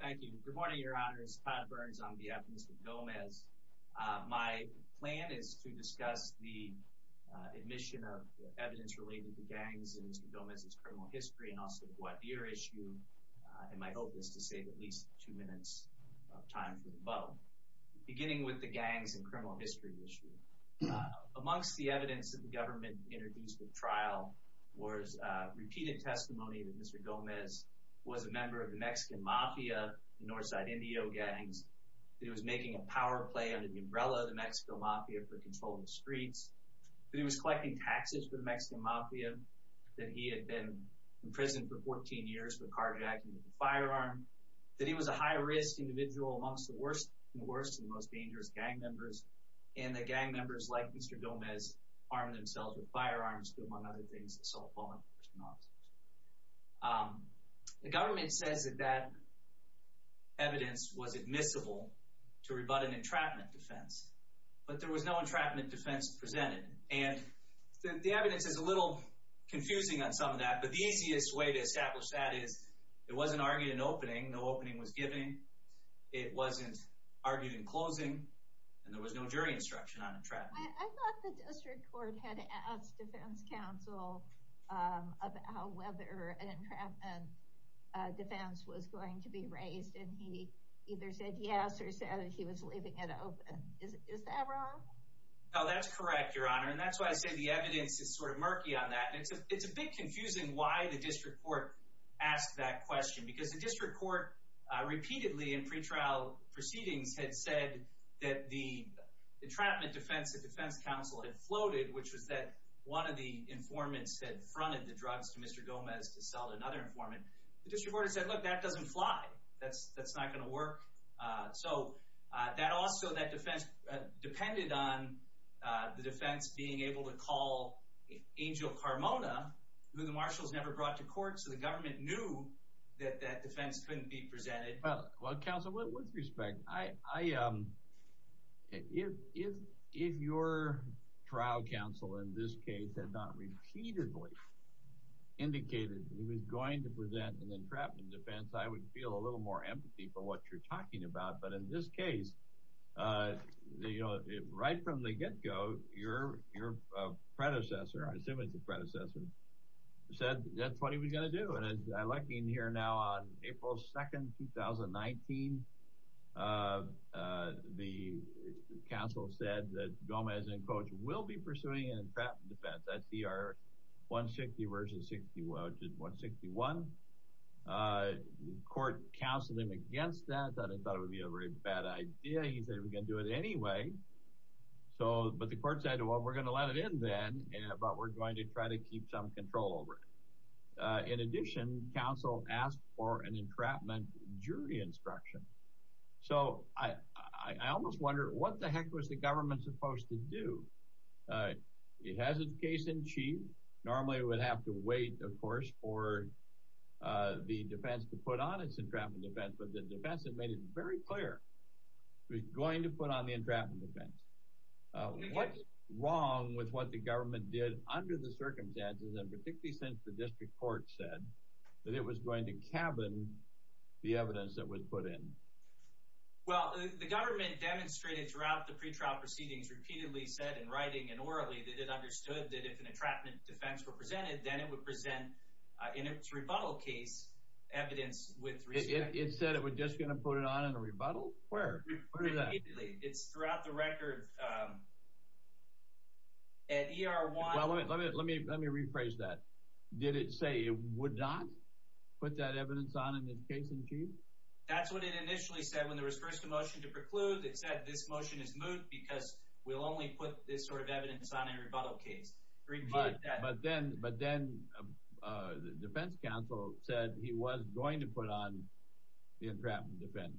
Thank you. Good morning, Your Honors. Todd Burns on behalf of Mr. Gomez. My plan is to discuss the admission of evidence related to gangs in Mr. Gomez's criminal history, and also the Guadir issue, and my hope is to save at least two minutes of time for them both. Beginning with the gangs and criminal history issue, amongst the evidence that the government introduced at trial was repeated testimony that Mr. Gomez was a member of the Mexican Mafia and Northside Indio gangs, that he was making a power play under the umbrella of the Mexico Mafia for controlling the streets, that he was collecting taxes for the Mexican Mafia, that he had been imprisoned for 14 years for carjacking with a firearm, that he was a high-risk individual amongst the worst and worst and most dangerous gang members, and that gang members like Mr. Gomez armed themselves with firearms to do among other things assault, violence, and arson. The government says that that evidence was admissible to rebut an entrapment defense, but there was no entrapment defense presented, and the evidence is a little confusing on some of that, but the easiest way to establish that is it wasn't argued in opening, no opening was given, it wasn't argued in closing, and there was no jury instruction on entrapment. I thought the district court had asked defense counsel about whether an entrapment defense was going to be raised, and he either said yes or said he was leaving it open. Is that wrong? No, that's correct, Your Honor, and that's why I say the evidence is sort of murky on that, and it's a bit confusing why the district court asked that question, because the district court repeatedly in pretrial proceedings had said that the entrapment defense that defense counsel had floated, which was that one of the informants had fronted the drugs to Mr. Gomez to sell to another informant. The district court had said, look, that doesn't fly. That's not going to work. So that also, that defense depended on the defense being able to call Angel Carmona, who the marshals never brought to court, so the government knew that that defense couldn't be presented. Well, counsel, with respect, if your trial counsel in this case had not repeatedly indicated he was going to present an entrapment defense, I would feel a little more empathy for what you're talking about, but in this case, right from the get-go, your predecessor, I assume it's the predecessor, said that's what he was going to do, and as I'm looking here now on April 2, 2019, the counsel said that Gomez, in quotes, will be pursuing an entrapment defense, SCR 160 versus 161. The court counseled him against that, thought it would be a very bad idea. He said, we're going to do it anyway, but the court said, well, we're going to let it in then, but we're going to try to keep some control over it. In addition, counsel asked for an entrapment jury instruction. So I almost wonder, what the heck was the government supposed to do? It has its case in chief. Normally, it would have to wait, of course, for the defense to put on its entrapment defense, but the defense had made it very clear it was going to put on the entrapment defense. What's wrong with what the government did under the circumstances, and particularly since the district court said that it was going to cabin the evidence that was put in? Well, the government demonstrated throughout the pretrial proceedings, repeatedly said in writing and orally that it understood that if an entrapment defense were presented, then it would present, in its rebuttal case, evidence with respect. It said it was just going to put it on in a rebuttal? Where? It's throughout the record. Let me rephrase that. Did it say it would not put that evidence on in its case in chief? That's what it initially said. When there was first a motion to preclude, it said this motion is moved because we'll only put this sort of evidence on in a rebuttal case. But then the defense counsel said he was going to put on the entrapment defense.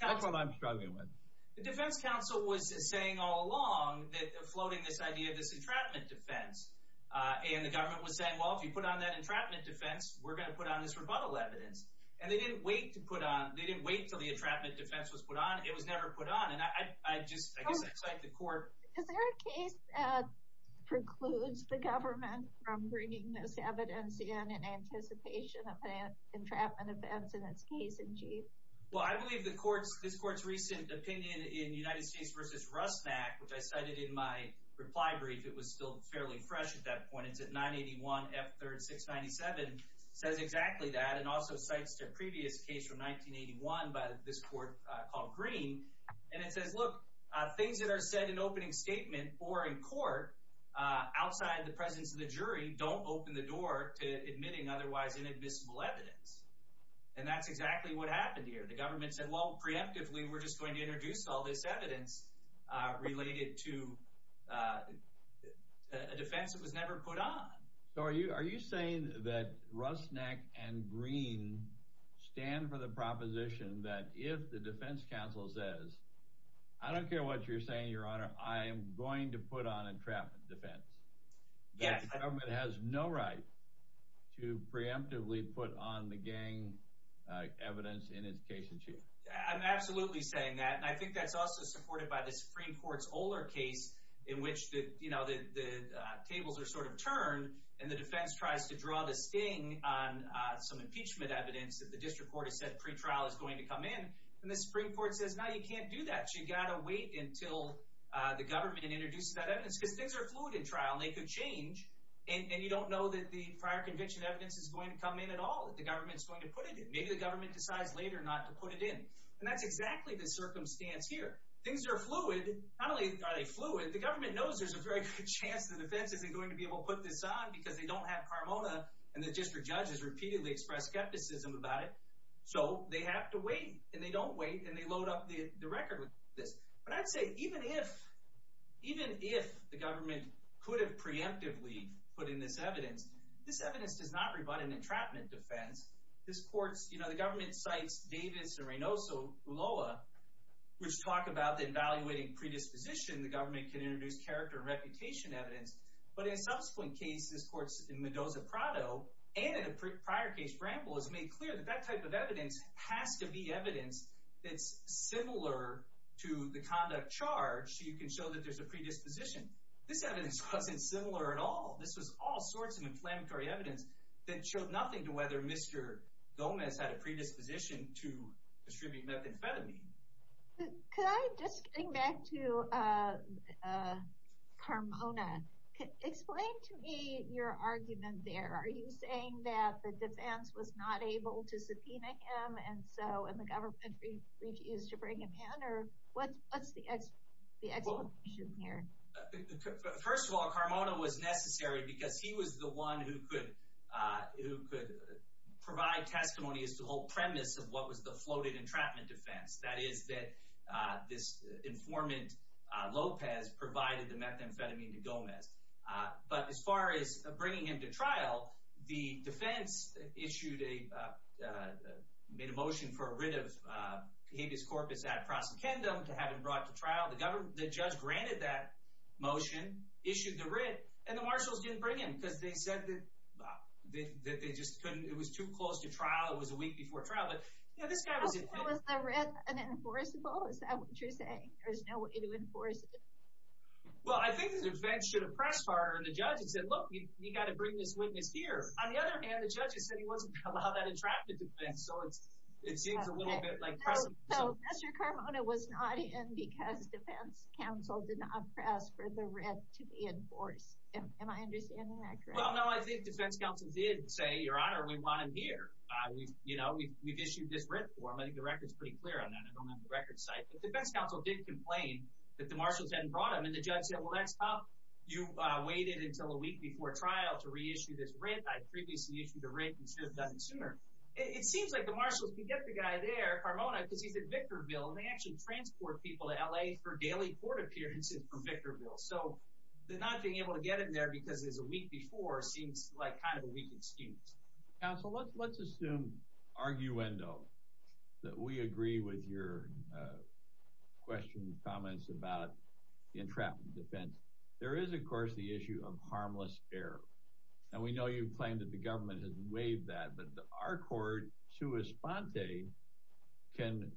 That's what I'm struggling with. The defense counsel was saying all along, floating this idea of this entrapment defense, and the government was saying, well, if you put on that entrapment defense, we're going to put on this rebuttal evidence. And they didn't wait until the entrapment defense was put on. It was never put on, and I guess I cite the court. Is there a case that precludes the government from bringing this evidence in in anticipation of an entrapment defense in its case in chief? Well, I believe this court's recent opinion in United States v. Rusnack, which I cited in my reply brief, it was still fairly fresh at that point, it's at 981 F3-697, says exactly that, and also cites their previous case from 1981 by this court called Green, and it says, look, things that are said in opening statement or in court outside the presence of the jury don't open the door to admitting otherwise inadmissible evidence, and that's exactly what happened here. The government said, well, preemptively we're just going to introduce all this evidence related to a defense that was never put on. So are you saying that Rusnack and Green stand for the proposition that if the defense counsel says, I don't care what you're saying, Your Honor, I am going to put on a entrapment defense. Yes. The government has no right to preemptively put on the gang evidence in its case in chief. I'm absolutely saying that, and I think that's also supported by the Supreme Court's older case in which the tables are sort of turned and the defense tries to draw the sting on some impeachment evidence that the district court has said pre-trial is going to come in, and the Supreme Court says, no, you can't do that. You've got to wait until the government introduces that evidence because things are fluid in trial, and they could change, and you don't know that the prior conviction evidence is going to come in at all, that the government is going to put it in. Maybe the government decides later not to put it in, and that's exactly the circumstance here. Things are fluid. Not only are they fluid, the government knows there's a very good chance the defense isn't going to be able to put this on because they don't have carmona, and the district judge has repeatedly expressed skepticism about it. So they have to wait, and they don't wait, and they load up the record with this. But I'd say even if the government could have preemptively put in this evidence, this evidence does not rebut an entrapment defense. The government cites Davis and Reynoso, Ulloa, which talk about the evaluating predisposition. The government can introduce character and reputation evidence, but in a subsequent case, this court's in Mendoza-Prado, and in a prior case, Bramble, has made clear that that type of evidence has to be evidence that's similar to the conduct charged so you can show that there's a predisposition. This evidence wasn't similar at all. This was all sorts of inflammatory evidence that showed nothing to whether Mr. Gomez had a predisposition to distribute methamphetamine. Could I just bring back to carmona? Explain to me your argument there. Are you saying that the defense was not able to subpoena him, and so the government refused to bring him in, or what's the explanation here? First of all, carmona was necessary because he was the one who could provide testimony as to the whole premise of what was the floated entrapment defense, that is that this informant, Lopez, provided the methamphetamine to Gomez. But as far as bringing him to trial, the defense issued a motion for a writ of habeas corpus ad prosecundum to have him brought to trial. The judge granted that motion, issued the writ, and the marshals didn't bring him because they said that it was too close to trial, it was a week before trial. Was the writ unenforceable? Is that what you're saying? There was no way to enforce it? Well, I think the defense should have pressed harder on the judge and said, look, you've got to bring this witness here. On the other hand, the judge said he wasn't going to allow that entrapment defense, so it seems a little bit like pressing. So Mr. Carmona was not in because defense counsel did not press for the writ to be enforced. Am I understanding that correctly? Well, no, I think defense counsel did say, Your Honor, we want him here. We've issued this writ for him. I think the record's pretty clear on that. I don't have the record site. But defense counsel did complain that the marshals hadn't brought him, and the judge said, well, that's tough. You waited until a week before trial to reissue this writ. I previously issued a writ and should have done it sooner. It seems like the marshals could get the guy there, Carmona, because he's at Victorville, and they actually transport people to L.A. for daily court appearances from Victorville. So the not being able to get it there because it was a week before seems like kind of a weak excuse. Counsel, let's assume, arguendo, that we agree with your questions, comments about the entrapment defense. There is, of course, the issue of harmless error. And we know you've claimed that the government has waived that, but our court, sua sponte, can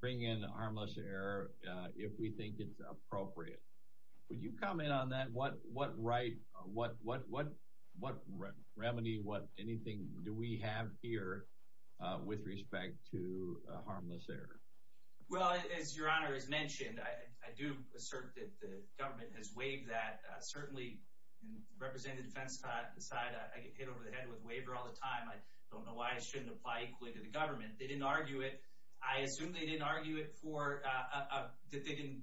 bring in harmless error if we think it's appropriate. Would you comment on that? What right, what remedy, what anything do we have here with respect to harmless error? Well, as Your Honor has mentioned, I do assert that the government has waived that. Certainly, representing the defense side, I get hit over the head with waiver all the time. I don't know why it shouldn't apply equally to the government. They didn't argue it. I assume they didn't argue it for – that they didn't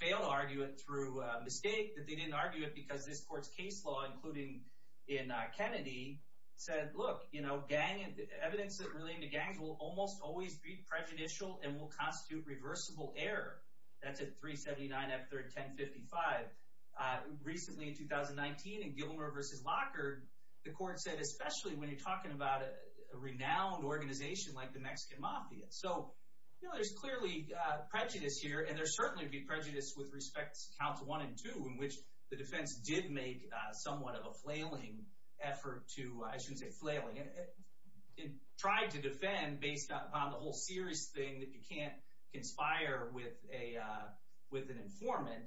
fail to argue it through mistake, that they didn't argue it because this court's case law, including in Kennedy, said, look, you know, gang – evidence relating to gangs will almost always be prejudicial and will constitute reversible error. That's at 379 F3rd 1055. Recently, in 2019, in Gilmer v. Lockard, the court said, especially when you're talking about a renowned organization like the Mexican Mafia. So, you know, there's clearly prejudice here, and there certainly would be prejudice with respect to counts one and two, in which the defense did make somewhat of a flailing effort to – I shouldn't say flailing. It tried to defend based upon the whole serious thing that you can't conspire with an informant.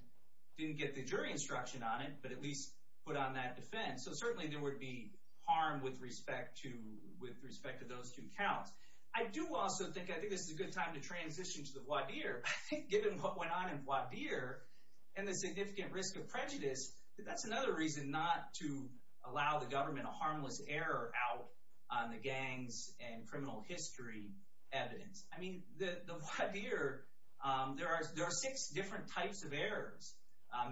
Didn't get the jury instruction on it, but at least put on that defense. So certainly there would be harm with respect to – with respect to those two counts. I do also think – I think this is a good time to transition to the voir dire. Given what went on in voir dire and the significant risk of prejudice, that's another reason not to allow the government a harmless error out on the gangs and criminal history evidence. I mean, the voir dire – there are six different types of errors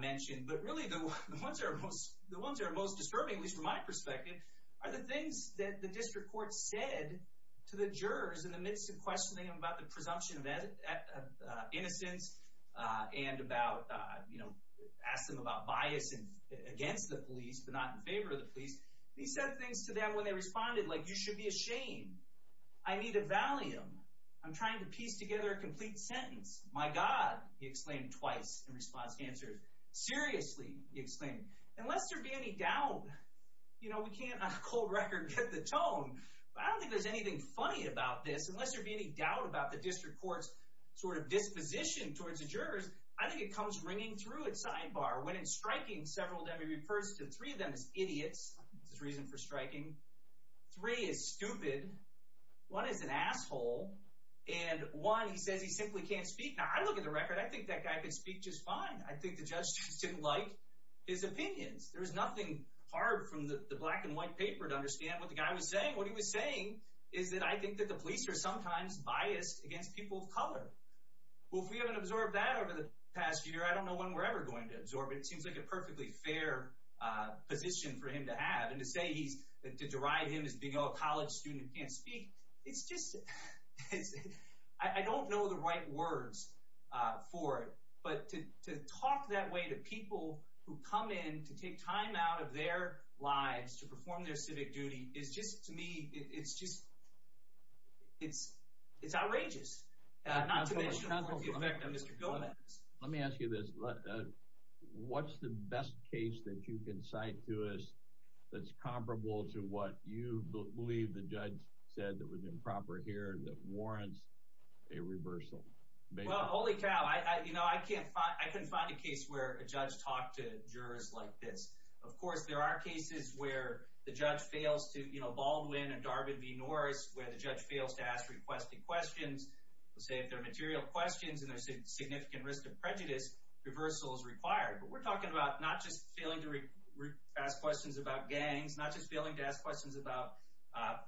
mentioned, but really the ones that are most disturbing, at least from my perspective, are the things that the district court said to the jurors in the midst of questioning them about the presumption of innocence and about – you know, asked them about bias against the police but not in favor of the police. They said things to them when they responded, like, you should be ashamed. I need a valium. I'm trying to piece together a complete sentence. My God, he explained twice in response to answers. Seriously, he explained. Unless there be any doubt – you know, we can't on a cold record get the tone, but I don't think there's anything funny about this. Unless there be any doubt about the district court's sort of disposition towards the jurors, I think it comes ringing through at sidebar. When it's striking, several of them, he refers to three of them as idiots. That's his reason for striking. Three is stupid. One is an asshole. And one, he says he simply can't speak. Now, I look at the record. I think that guy could speak just fine. I think the judge just didn't like his opinions. There was nothing hard from the black and white paper to understand what the guy was saying. What he was saying is that I think that the police are sometimes biased against people of color. Well, if we haven't absorbed that over the past year, I don't know when we're ever going to absorb it. It seems like a perfectly fair position for him to have. And to say he's – to derive him as being a college student who can't speak, it's just – I don't know the right words for it. But to talk that way to people who come in to take time out of their lives to perform their civic duty is just – to me, it's just – it's outrageous, not to mention for the effect on Mr. Gomez. Let me ask you this. What's the best case that you can cite to us that's comparable to what you believe the judge said that was improper here that warrants a reversal? Well, holy cow. I can't find a case where a judge talked to jurors like this. Of course, there are cases where the judge fails to – you know, Baldwin and Darvin v. Norris, where the judge fails to ask requested questions. They'll say if they're material questions and there's a significant risk of prejudice, reversal is required. But we're talking about not just failing to ask questions about gangs, not just failing to ask questions about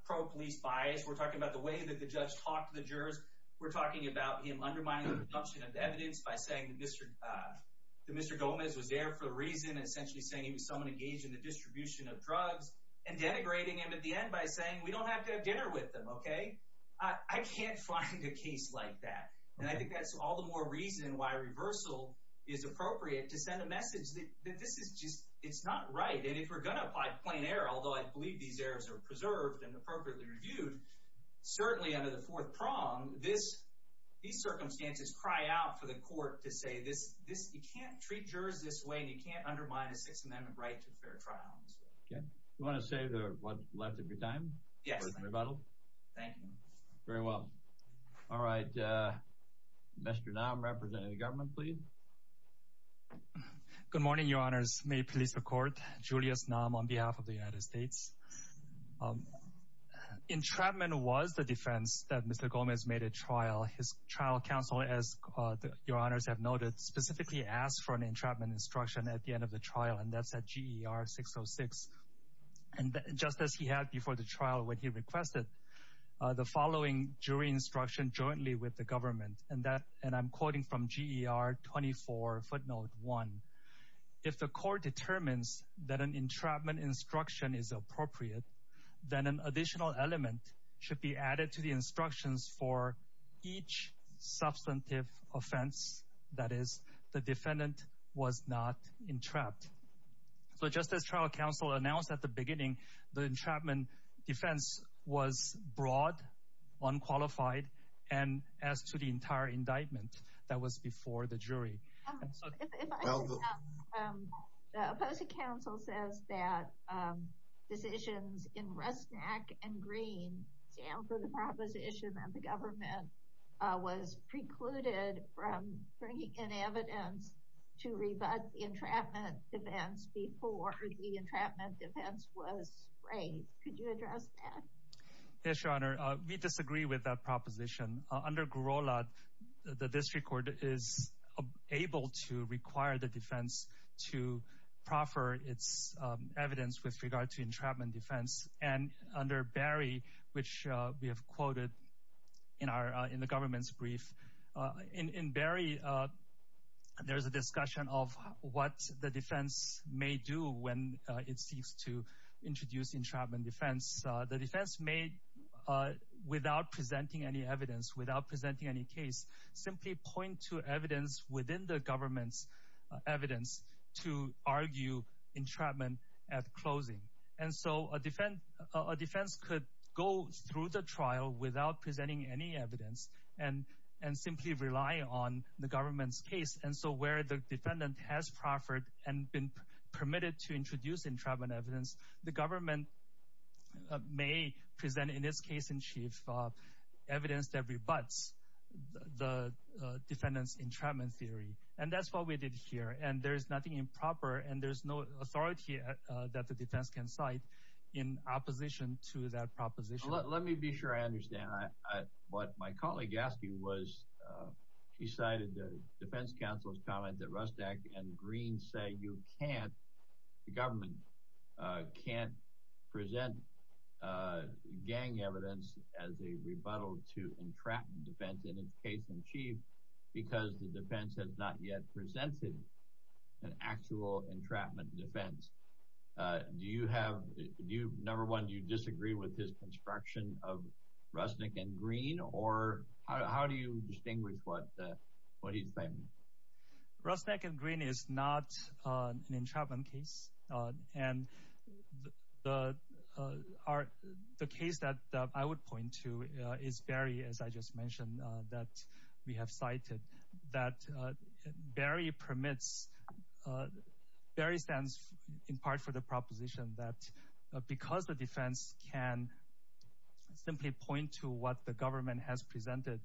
pro-police bias. We're talking about the way that the judge talked to the jurors. We're talking about him undermining the production of evidence by saying that Mr. Gomez was there for a reason and essentially saying he was someone engaged in the distribution of drugs and denigrating him at the end by saying we don't have to have dinner with them, okay? I can't find a case like that. And I think that's all the more reason why reversal is appropriate to send a message that this is just – it's not right. And if we're going to apply plain error, although I believe these errors are preserved and appropriately reviewed, certainly under the fourth prong, these circumstances cry out for the court to say this – you can't treat jurors this way and you can't undermine a Sixth Amendment right to a fair trial. You want to say what's left of your time? Yes, thank you. Thank you. Very well. All right. Mr. Nam, representing the government, please. Good morning, Your Honors. May it please the Court. Julius Nam on behalf of the United States. Entrapment was the defense that Mr. Gomez made at trial. His trial counsel, as Your Honors have noted, specifically asked for an entrapment instruction at the end of the trial, and that's at GER 606. And just as he had before the trial when he requested the following jury instruction jointly with the government, and I'm quoting from GER 24 footnote 1, if the court determines that an entrapment instruction is appropriate, then an additional element should be added to the instructions for each substantive offense, that is, the defendant was not entrapped. So just as trial counsel announced at the beginning, the entrapment defense was broad, unqualified, and as to the entire indictment that was before the jury. The opposing counsel says that decisions in Resnick and Green stand for the proposition that the government was precluded from bringing in evidence to rebut the entrapment defense before the entrapment defense was raised. Could you address that? Yes, Your Honor. We disagree with that proposition. Under Gorolod, the district court is able to require the defense to proffer its evidence with regard to entrapment defense, and under Berry, which we have quoted in the government's brief, in Berry, there's a discussion of what the defense may do when it seeks to introduce entrapment defense. The defense may, without presenting any evidence, without presenting any case, simply point to evidence within the government's evidence to argue entrapment at closing. And so a defense could go through the trial without presenting any evidence and simply rely on the government's case. And so where the defendant has proffered and been permitted to introduce entrapment evidence, the government may present in its case in chief evidence that rebuts the defendant's entrapment theory. And that's what we did here, and there's nothing improper, and there's no authority that the defense can cite in opposition to that proposition. Let me be sure I understand. What my colleague asked you was, she cited the defense counsel's comment that Resnick and Green say you can't, the government can't present gang evidence as a rebuttal to entrapment defense in its case in chief because the defense has not yet presented an actual entrapment defense. Do you have, do you, number one, do you disagree with his construction of Resnick and Green, or how do you distinguish what he's claiming? Resnick and Green is not an entrapment case. And the case that I would point to is Barry, as I just mentioned, that we have cited, that Barry permits, Barry stands in part for the proposition that because the defense can simply point to what the government has presented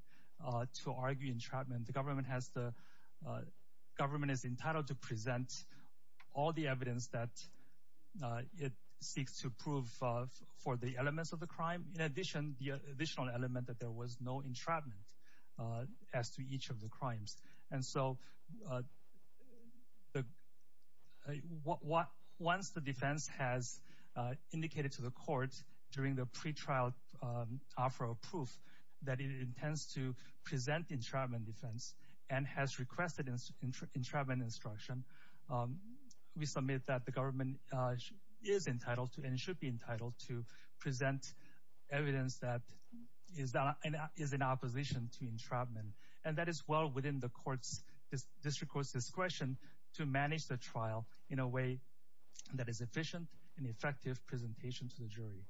to argue entrapment, the government has the, government is entitled to present all the evidence that it seeks to prove for the elements of the crime. In addition, the additional element that there was no entrapment as to each of the crimes. And so once the defense has indicated to the court during the pretrial offer of proof that it intends to present entrapment defense and has requested entrapment instruction, we submit that the government is entitled to and should be entitled to present evidence that is in opposition to entrapment. And that is well within the court's, district court's discretion to manage the trial in a way that is efficient and effective presentation to the jury.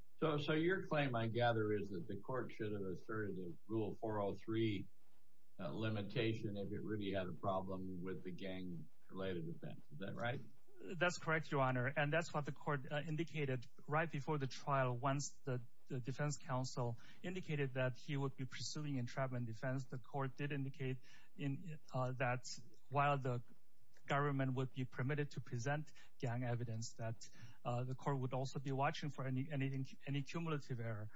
So your claim, I gather, is that the court should have asserted Rule 403 limitation if it really had a problem with the gang-related offense. Is that right? That's correct, Your Honor, and that's what the court indicated right before the trial. Once the defense counsel indicated that he would be pursuing entrapment defense, the court did indicate that while the government would be permitted to present gang evidence, that the court would also be watching for any cumulative error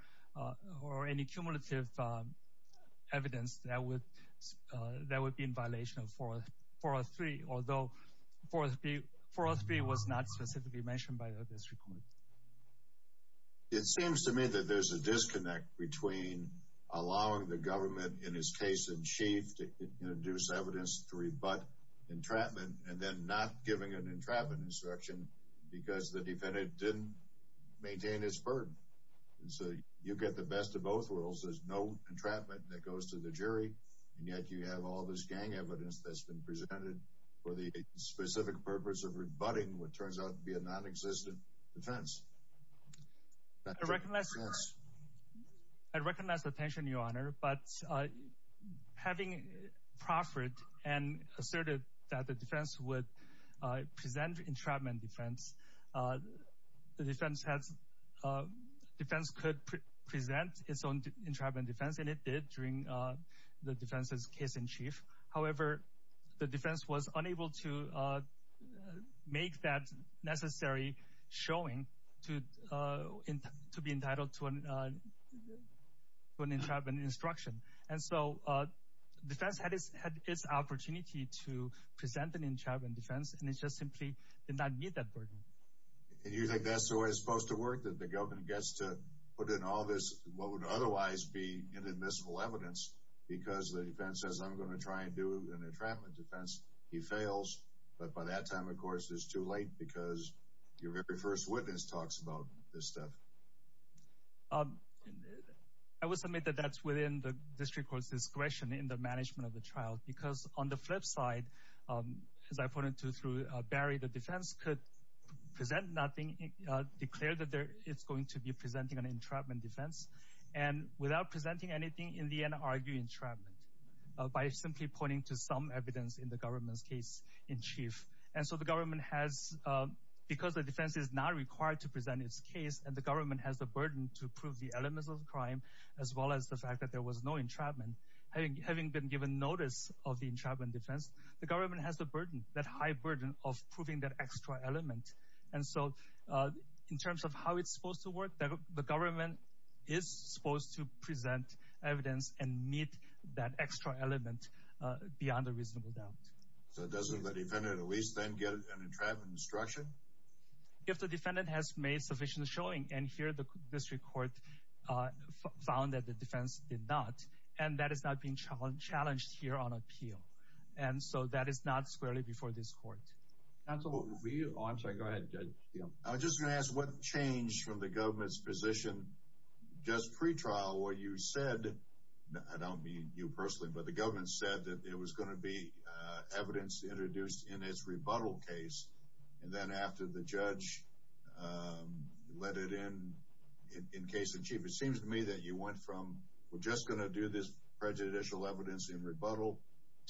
or any cumulative evidence that would be in violation of 403, although 403 was not specifically mentioned by the district court. It seems to me that there's a disconnect between allowing the government in its case in chief to introduce evidence to rebut entrapment and then not giving an entrapment instruction because the defendant didn't maintain its burden. So you get the best of both worlds. There's no entrapment that goes to the jury, and yet you have all this gang evidence that's been presented for the specific purpose of rebutting what turns out to be a non-existent defense. I recognize the tension, Your Honor, but having proffered and asserted that the defense would present entrapment defense, the defense could present its own entrapment defense, and it did during the defense's case in chief. However, the defense was unable to make that necessary showing to be entitled to an entrapment instruction. And so the defense had its opportunity to present an entrapment defense, and it just simply did not meet that burden. And you think that's the way it's supposed to work, that the government gets to put in all this what would otherwise be inadmissible evidence because the defense says, I'm going to try and do an entrapment defense? He fails, but by that time, of course, it's too late because your very first witness talks about this stuff. I will submit that that's within the district court's discretion in the management of the trial, because on the flip side, as I pointed to through Barry, the defense could present nothing, declare that it's going to be presenting an entrapment defense, and without presenting anything, in the end argue entrapment by simply pointing to some evidence in the government's case in chief. And so the government has, because the defense is not required to present its case, and the government has the burden to prove the elements of the crime, as well as the fact that there was no entrapment, having been given notice of the entrapment defense, the government has the burden, that high burden, of proving that extra element. And so in terms of how it's supposed to work, the government is supposed to present evidence and meet that extra element beyond a reasonable doubt. So doesn't the defendant at least then get an entrapment instruction? If the defendant has made sufficient showing, and here the district court found that the defense did not, and that is not being challenged here on appeal. And so that is not squarely before this court. Counsel, will we, oh, I'm sorry, go ahead, Judge Steele. I was just going to ask, what changed from the government's position just pre-trial where you said, I don't mean you personally, but the government said that it was going to be evidence introduced in its rebuttal case. And then after the judge let it in, in case in chief, it seems to me that you went from, we're just going to do this prejudicial evidence in rebuttal,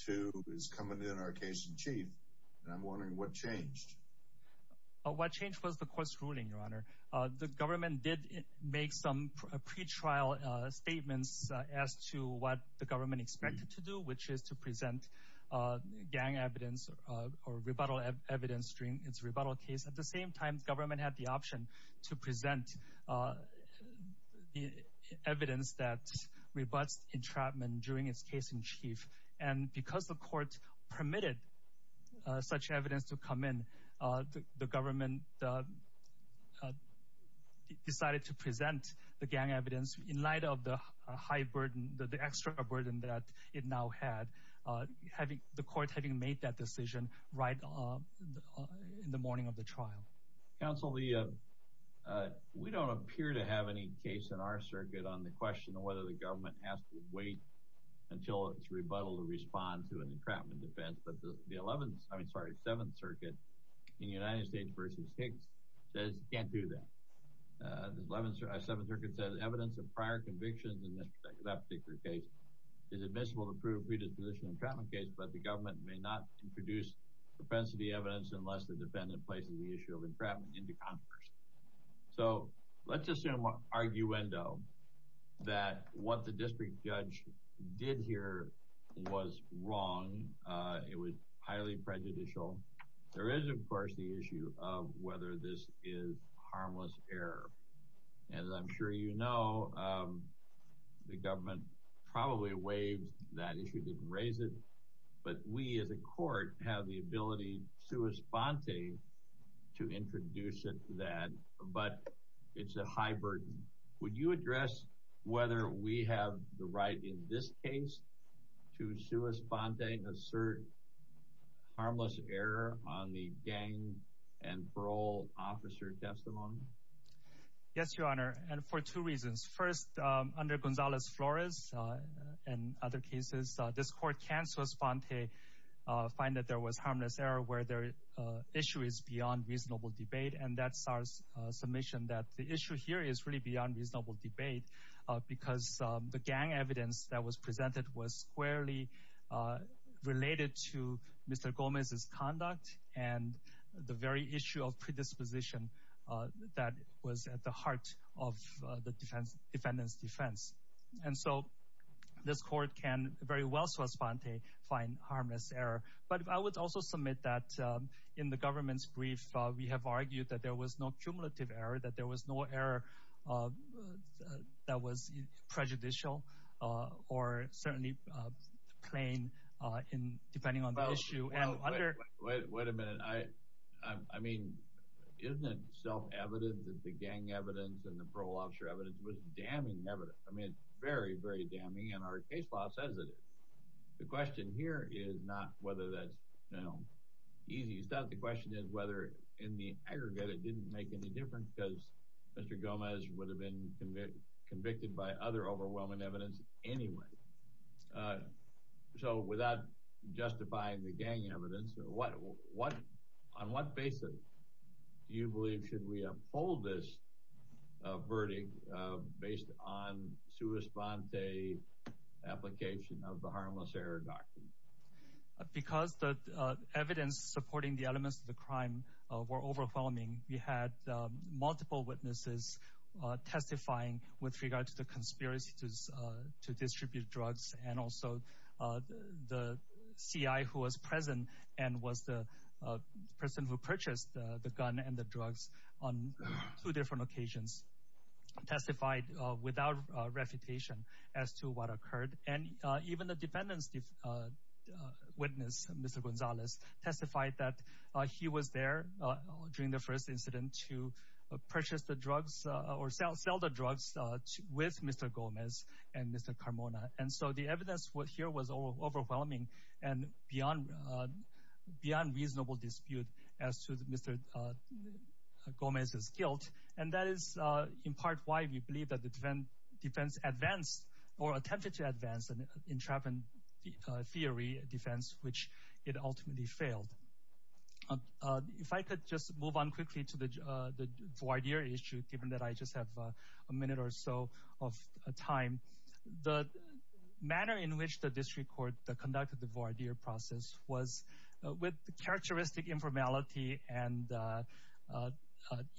to it's coming in our case in chief. And I'm wondering what changed. The government did make some pre-trial statements as to what the government expected to do, which is to present gang evidence or rebuttal evidence during its rebuttal case. At the same time, the government had the option to present evidence that rebutts entrapment during its case in chief. And because the court permitted such evidence to come in, the government decided to present the gang evidence in light of the high burden, the extra burden that it now had, the court having made that decision right in the morning of the trial. Counsel, we don't appear to have any case in our circuit on the question of whether the government has to wait until its rebuttal to respond to an entrapment defense. But the 7th Circuit in the United States v. Higgs says it can't do that. The 7th Circuit says evidence of prior convictions in that particular case is admissible to prove predisposition entrapment case, but the government may not introduce propensity evidence unless the defendant places the issue of entrapment into Congress. So let's assume, arguendo, that what the district judge did here was wrong. It was highly prejudicial. There is, of course, the issue of whether this is harmless error. As I'm sure you know, the government probably waived that issue, didn't raise it. But we as a court have the ability, sua sponte, to introduce it to that. But it's a high burden. Would you address whether we have the right in this case to sua sponte, assert harmless error on the gang and parole officer testimony? Yes, Your Honor, and for two reasons. First, under Gonzalez-Flores and other cases, this court can, sua sponte, find that there was harmless error where the issue is beyond reasonable debate. And that's our submission that the issue here is really beyond reasonable debate because the gang evidence that was presented was squarely related to Mr. Gomez's conduct and the very issue of predisposition that was at the heart of the defendant's defense. And so this court can very well, sua sponte, find harmless error. But I would also submit that in the government's brief, we have argued that there was no cumulative error, that there was no error that was prejudicial or certainly plain depending on the issue. Wait a minute. I mean, isn't it self-evident that the gang evidence and the parole officer evidence was damning evidence? I mean, it's very, very damning, and our case law says it is. The question here is not whether that's easy stuff. The question is whether in the aggregate it didn't make any difference because Mr. Gomez would have been convicted by other overwhelming evidence anyway. So without justifying the gang evidence, on what basis do you believe should we uphold this verdict based on sua sponte application of the harmless error doctrine? Because the evidence supporting the elements of the crime were overwhelming, we had multiple witnesses testifying with regard to the conspiracy to distribute drugs, and also the CI who was present and was the person who purchased the gun and the drugs on two different occasions, testified without refutation as to what occurred. And even the defendant's witness, Mr. Gonzalez, testified that he was there during the first incident to purchase the drugs or sell the drugs with Mr. Gomez and Mr. Carmona. And so the evidence here was overwhelming and beyond reasonable dispute as to Mr. Gomez's guilt, and that is in part why we believe that the defense advanced or attempted to advance an entrapment theory defense, which it ultimately failed. If I could just move on quickly to the voir dire issue, given that I just have a minute or so of time. The manner in which the district court conducted the voir dire process was with characteristic informality and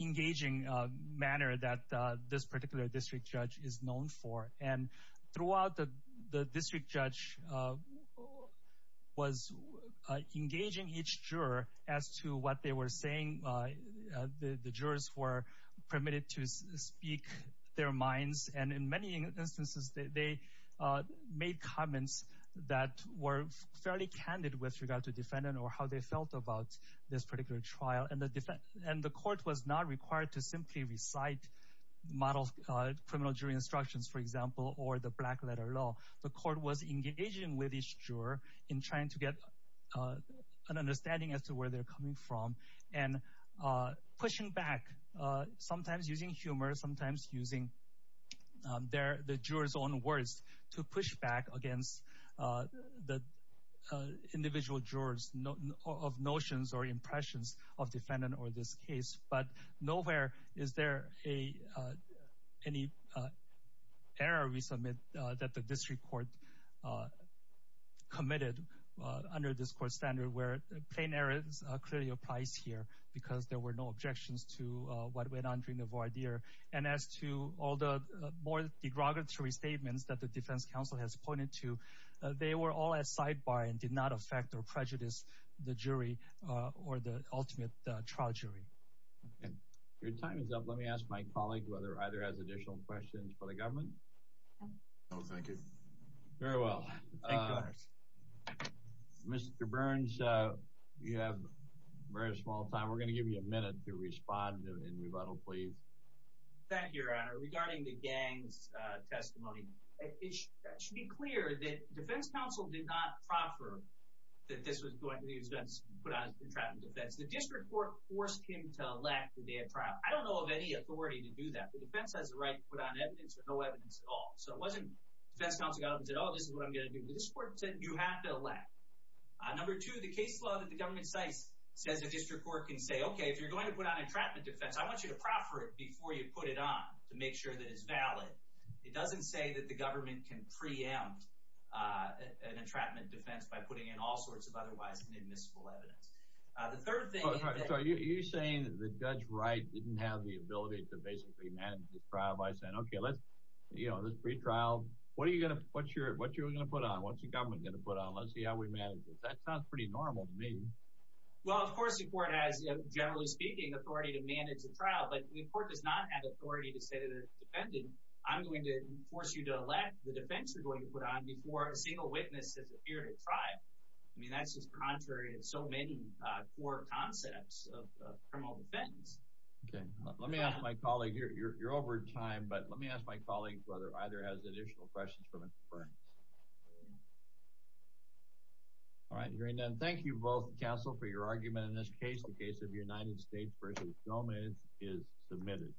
engaging manner that this particular district judge is known for. And throughout, the district judge was engaging each juror as to what they were saying. The jurors were permitted to speak their minds, and in many instances, they made comments that were fairly candid with regard to defendant or how they felt about this particular trial. And the court was not required to simply recite criminal jury instructions, for example, or the black letter law. The court was engaging with each juror in trying to get an understanding as to where they're coming from and pushing back, sometimes using humor, sometimes using the jurors' own words to push back against the individual jurors' notions or impressions of defendant or this case. But nowhere is there any error we submit that the district court committed under this court standard, where plain error clearly applies here because there were no objections to what went on during the voir dire. And as to all the more derogatory statements that the defense counsel has pointed to, they were all at sidebar and did not affect or prejudice the jury or the ultimate trial jury. Your time is up. Let me ask my colleague whether either has additional questions for the government. No, thank you. Very well. Thank you, Your Honors. Mr. Burns, you have a very small time. We're going to give you a minute to respond in rebuttal, please. Thank you, Your Honor. Regarding the gang's testimony, it should be clear that defense counsel did not proffer that this was going to be put on as entrapment defense. The district court forced him to elect the day of trial. I don't know of any authority to do that, but defense has the right to put on evidence or no evidence at all. So it wasn't defense counsel got up and said, oh, this is what I'm going to do. This court said you have to elect. Number two, the case law that the government cites says a district court can say, okay, if you're going to put on entrapment defense, I want you to proffer it before you put it on to make sure that it's valid. It doesn't say that the government can preempt an entrapment defense by putting in all sorts of otherwise inadmissible evidence. The third thing is that— You know, this pretrial, what are you going to put on? What's the government going to put on? Let's see how we manage this. That sounds pretty normal to me. Well, of course the court has, generally speaking, authority to manage the trial, but the court does not have authority to say to the defendant, I'm going to force you to elect the defense you're going to put on before a single witness has appeared at trial. I mean, that's just contrary to so many core concepts of criminal defense. Okay. Let me ask my colleague—you're over time, but let me ask my colleague whether either has additional questions for Mr. Burns. All right. Hearing none, thank you both, counsel, for your argument in this case. The case of United States v. Gomez is submitted.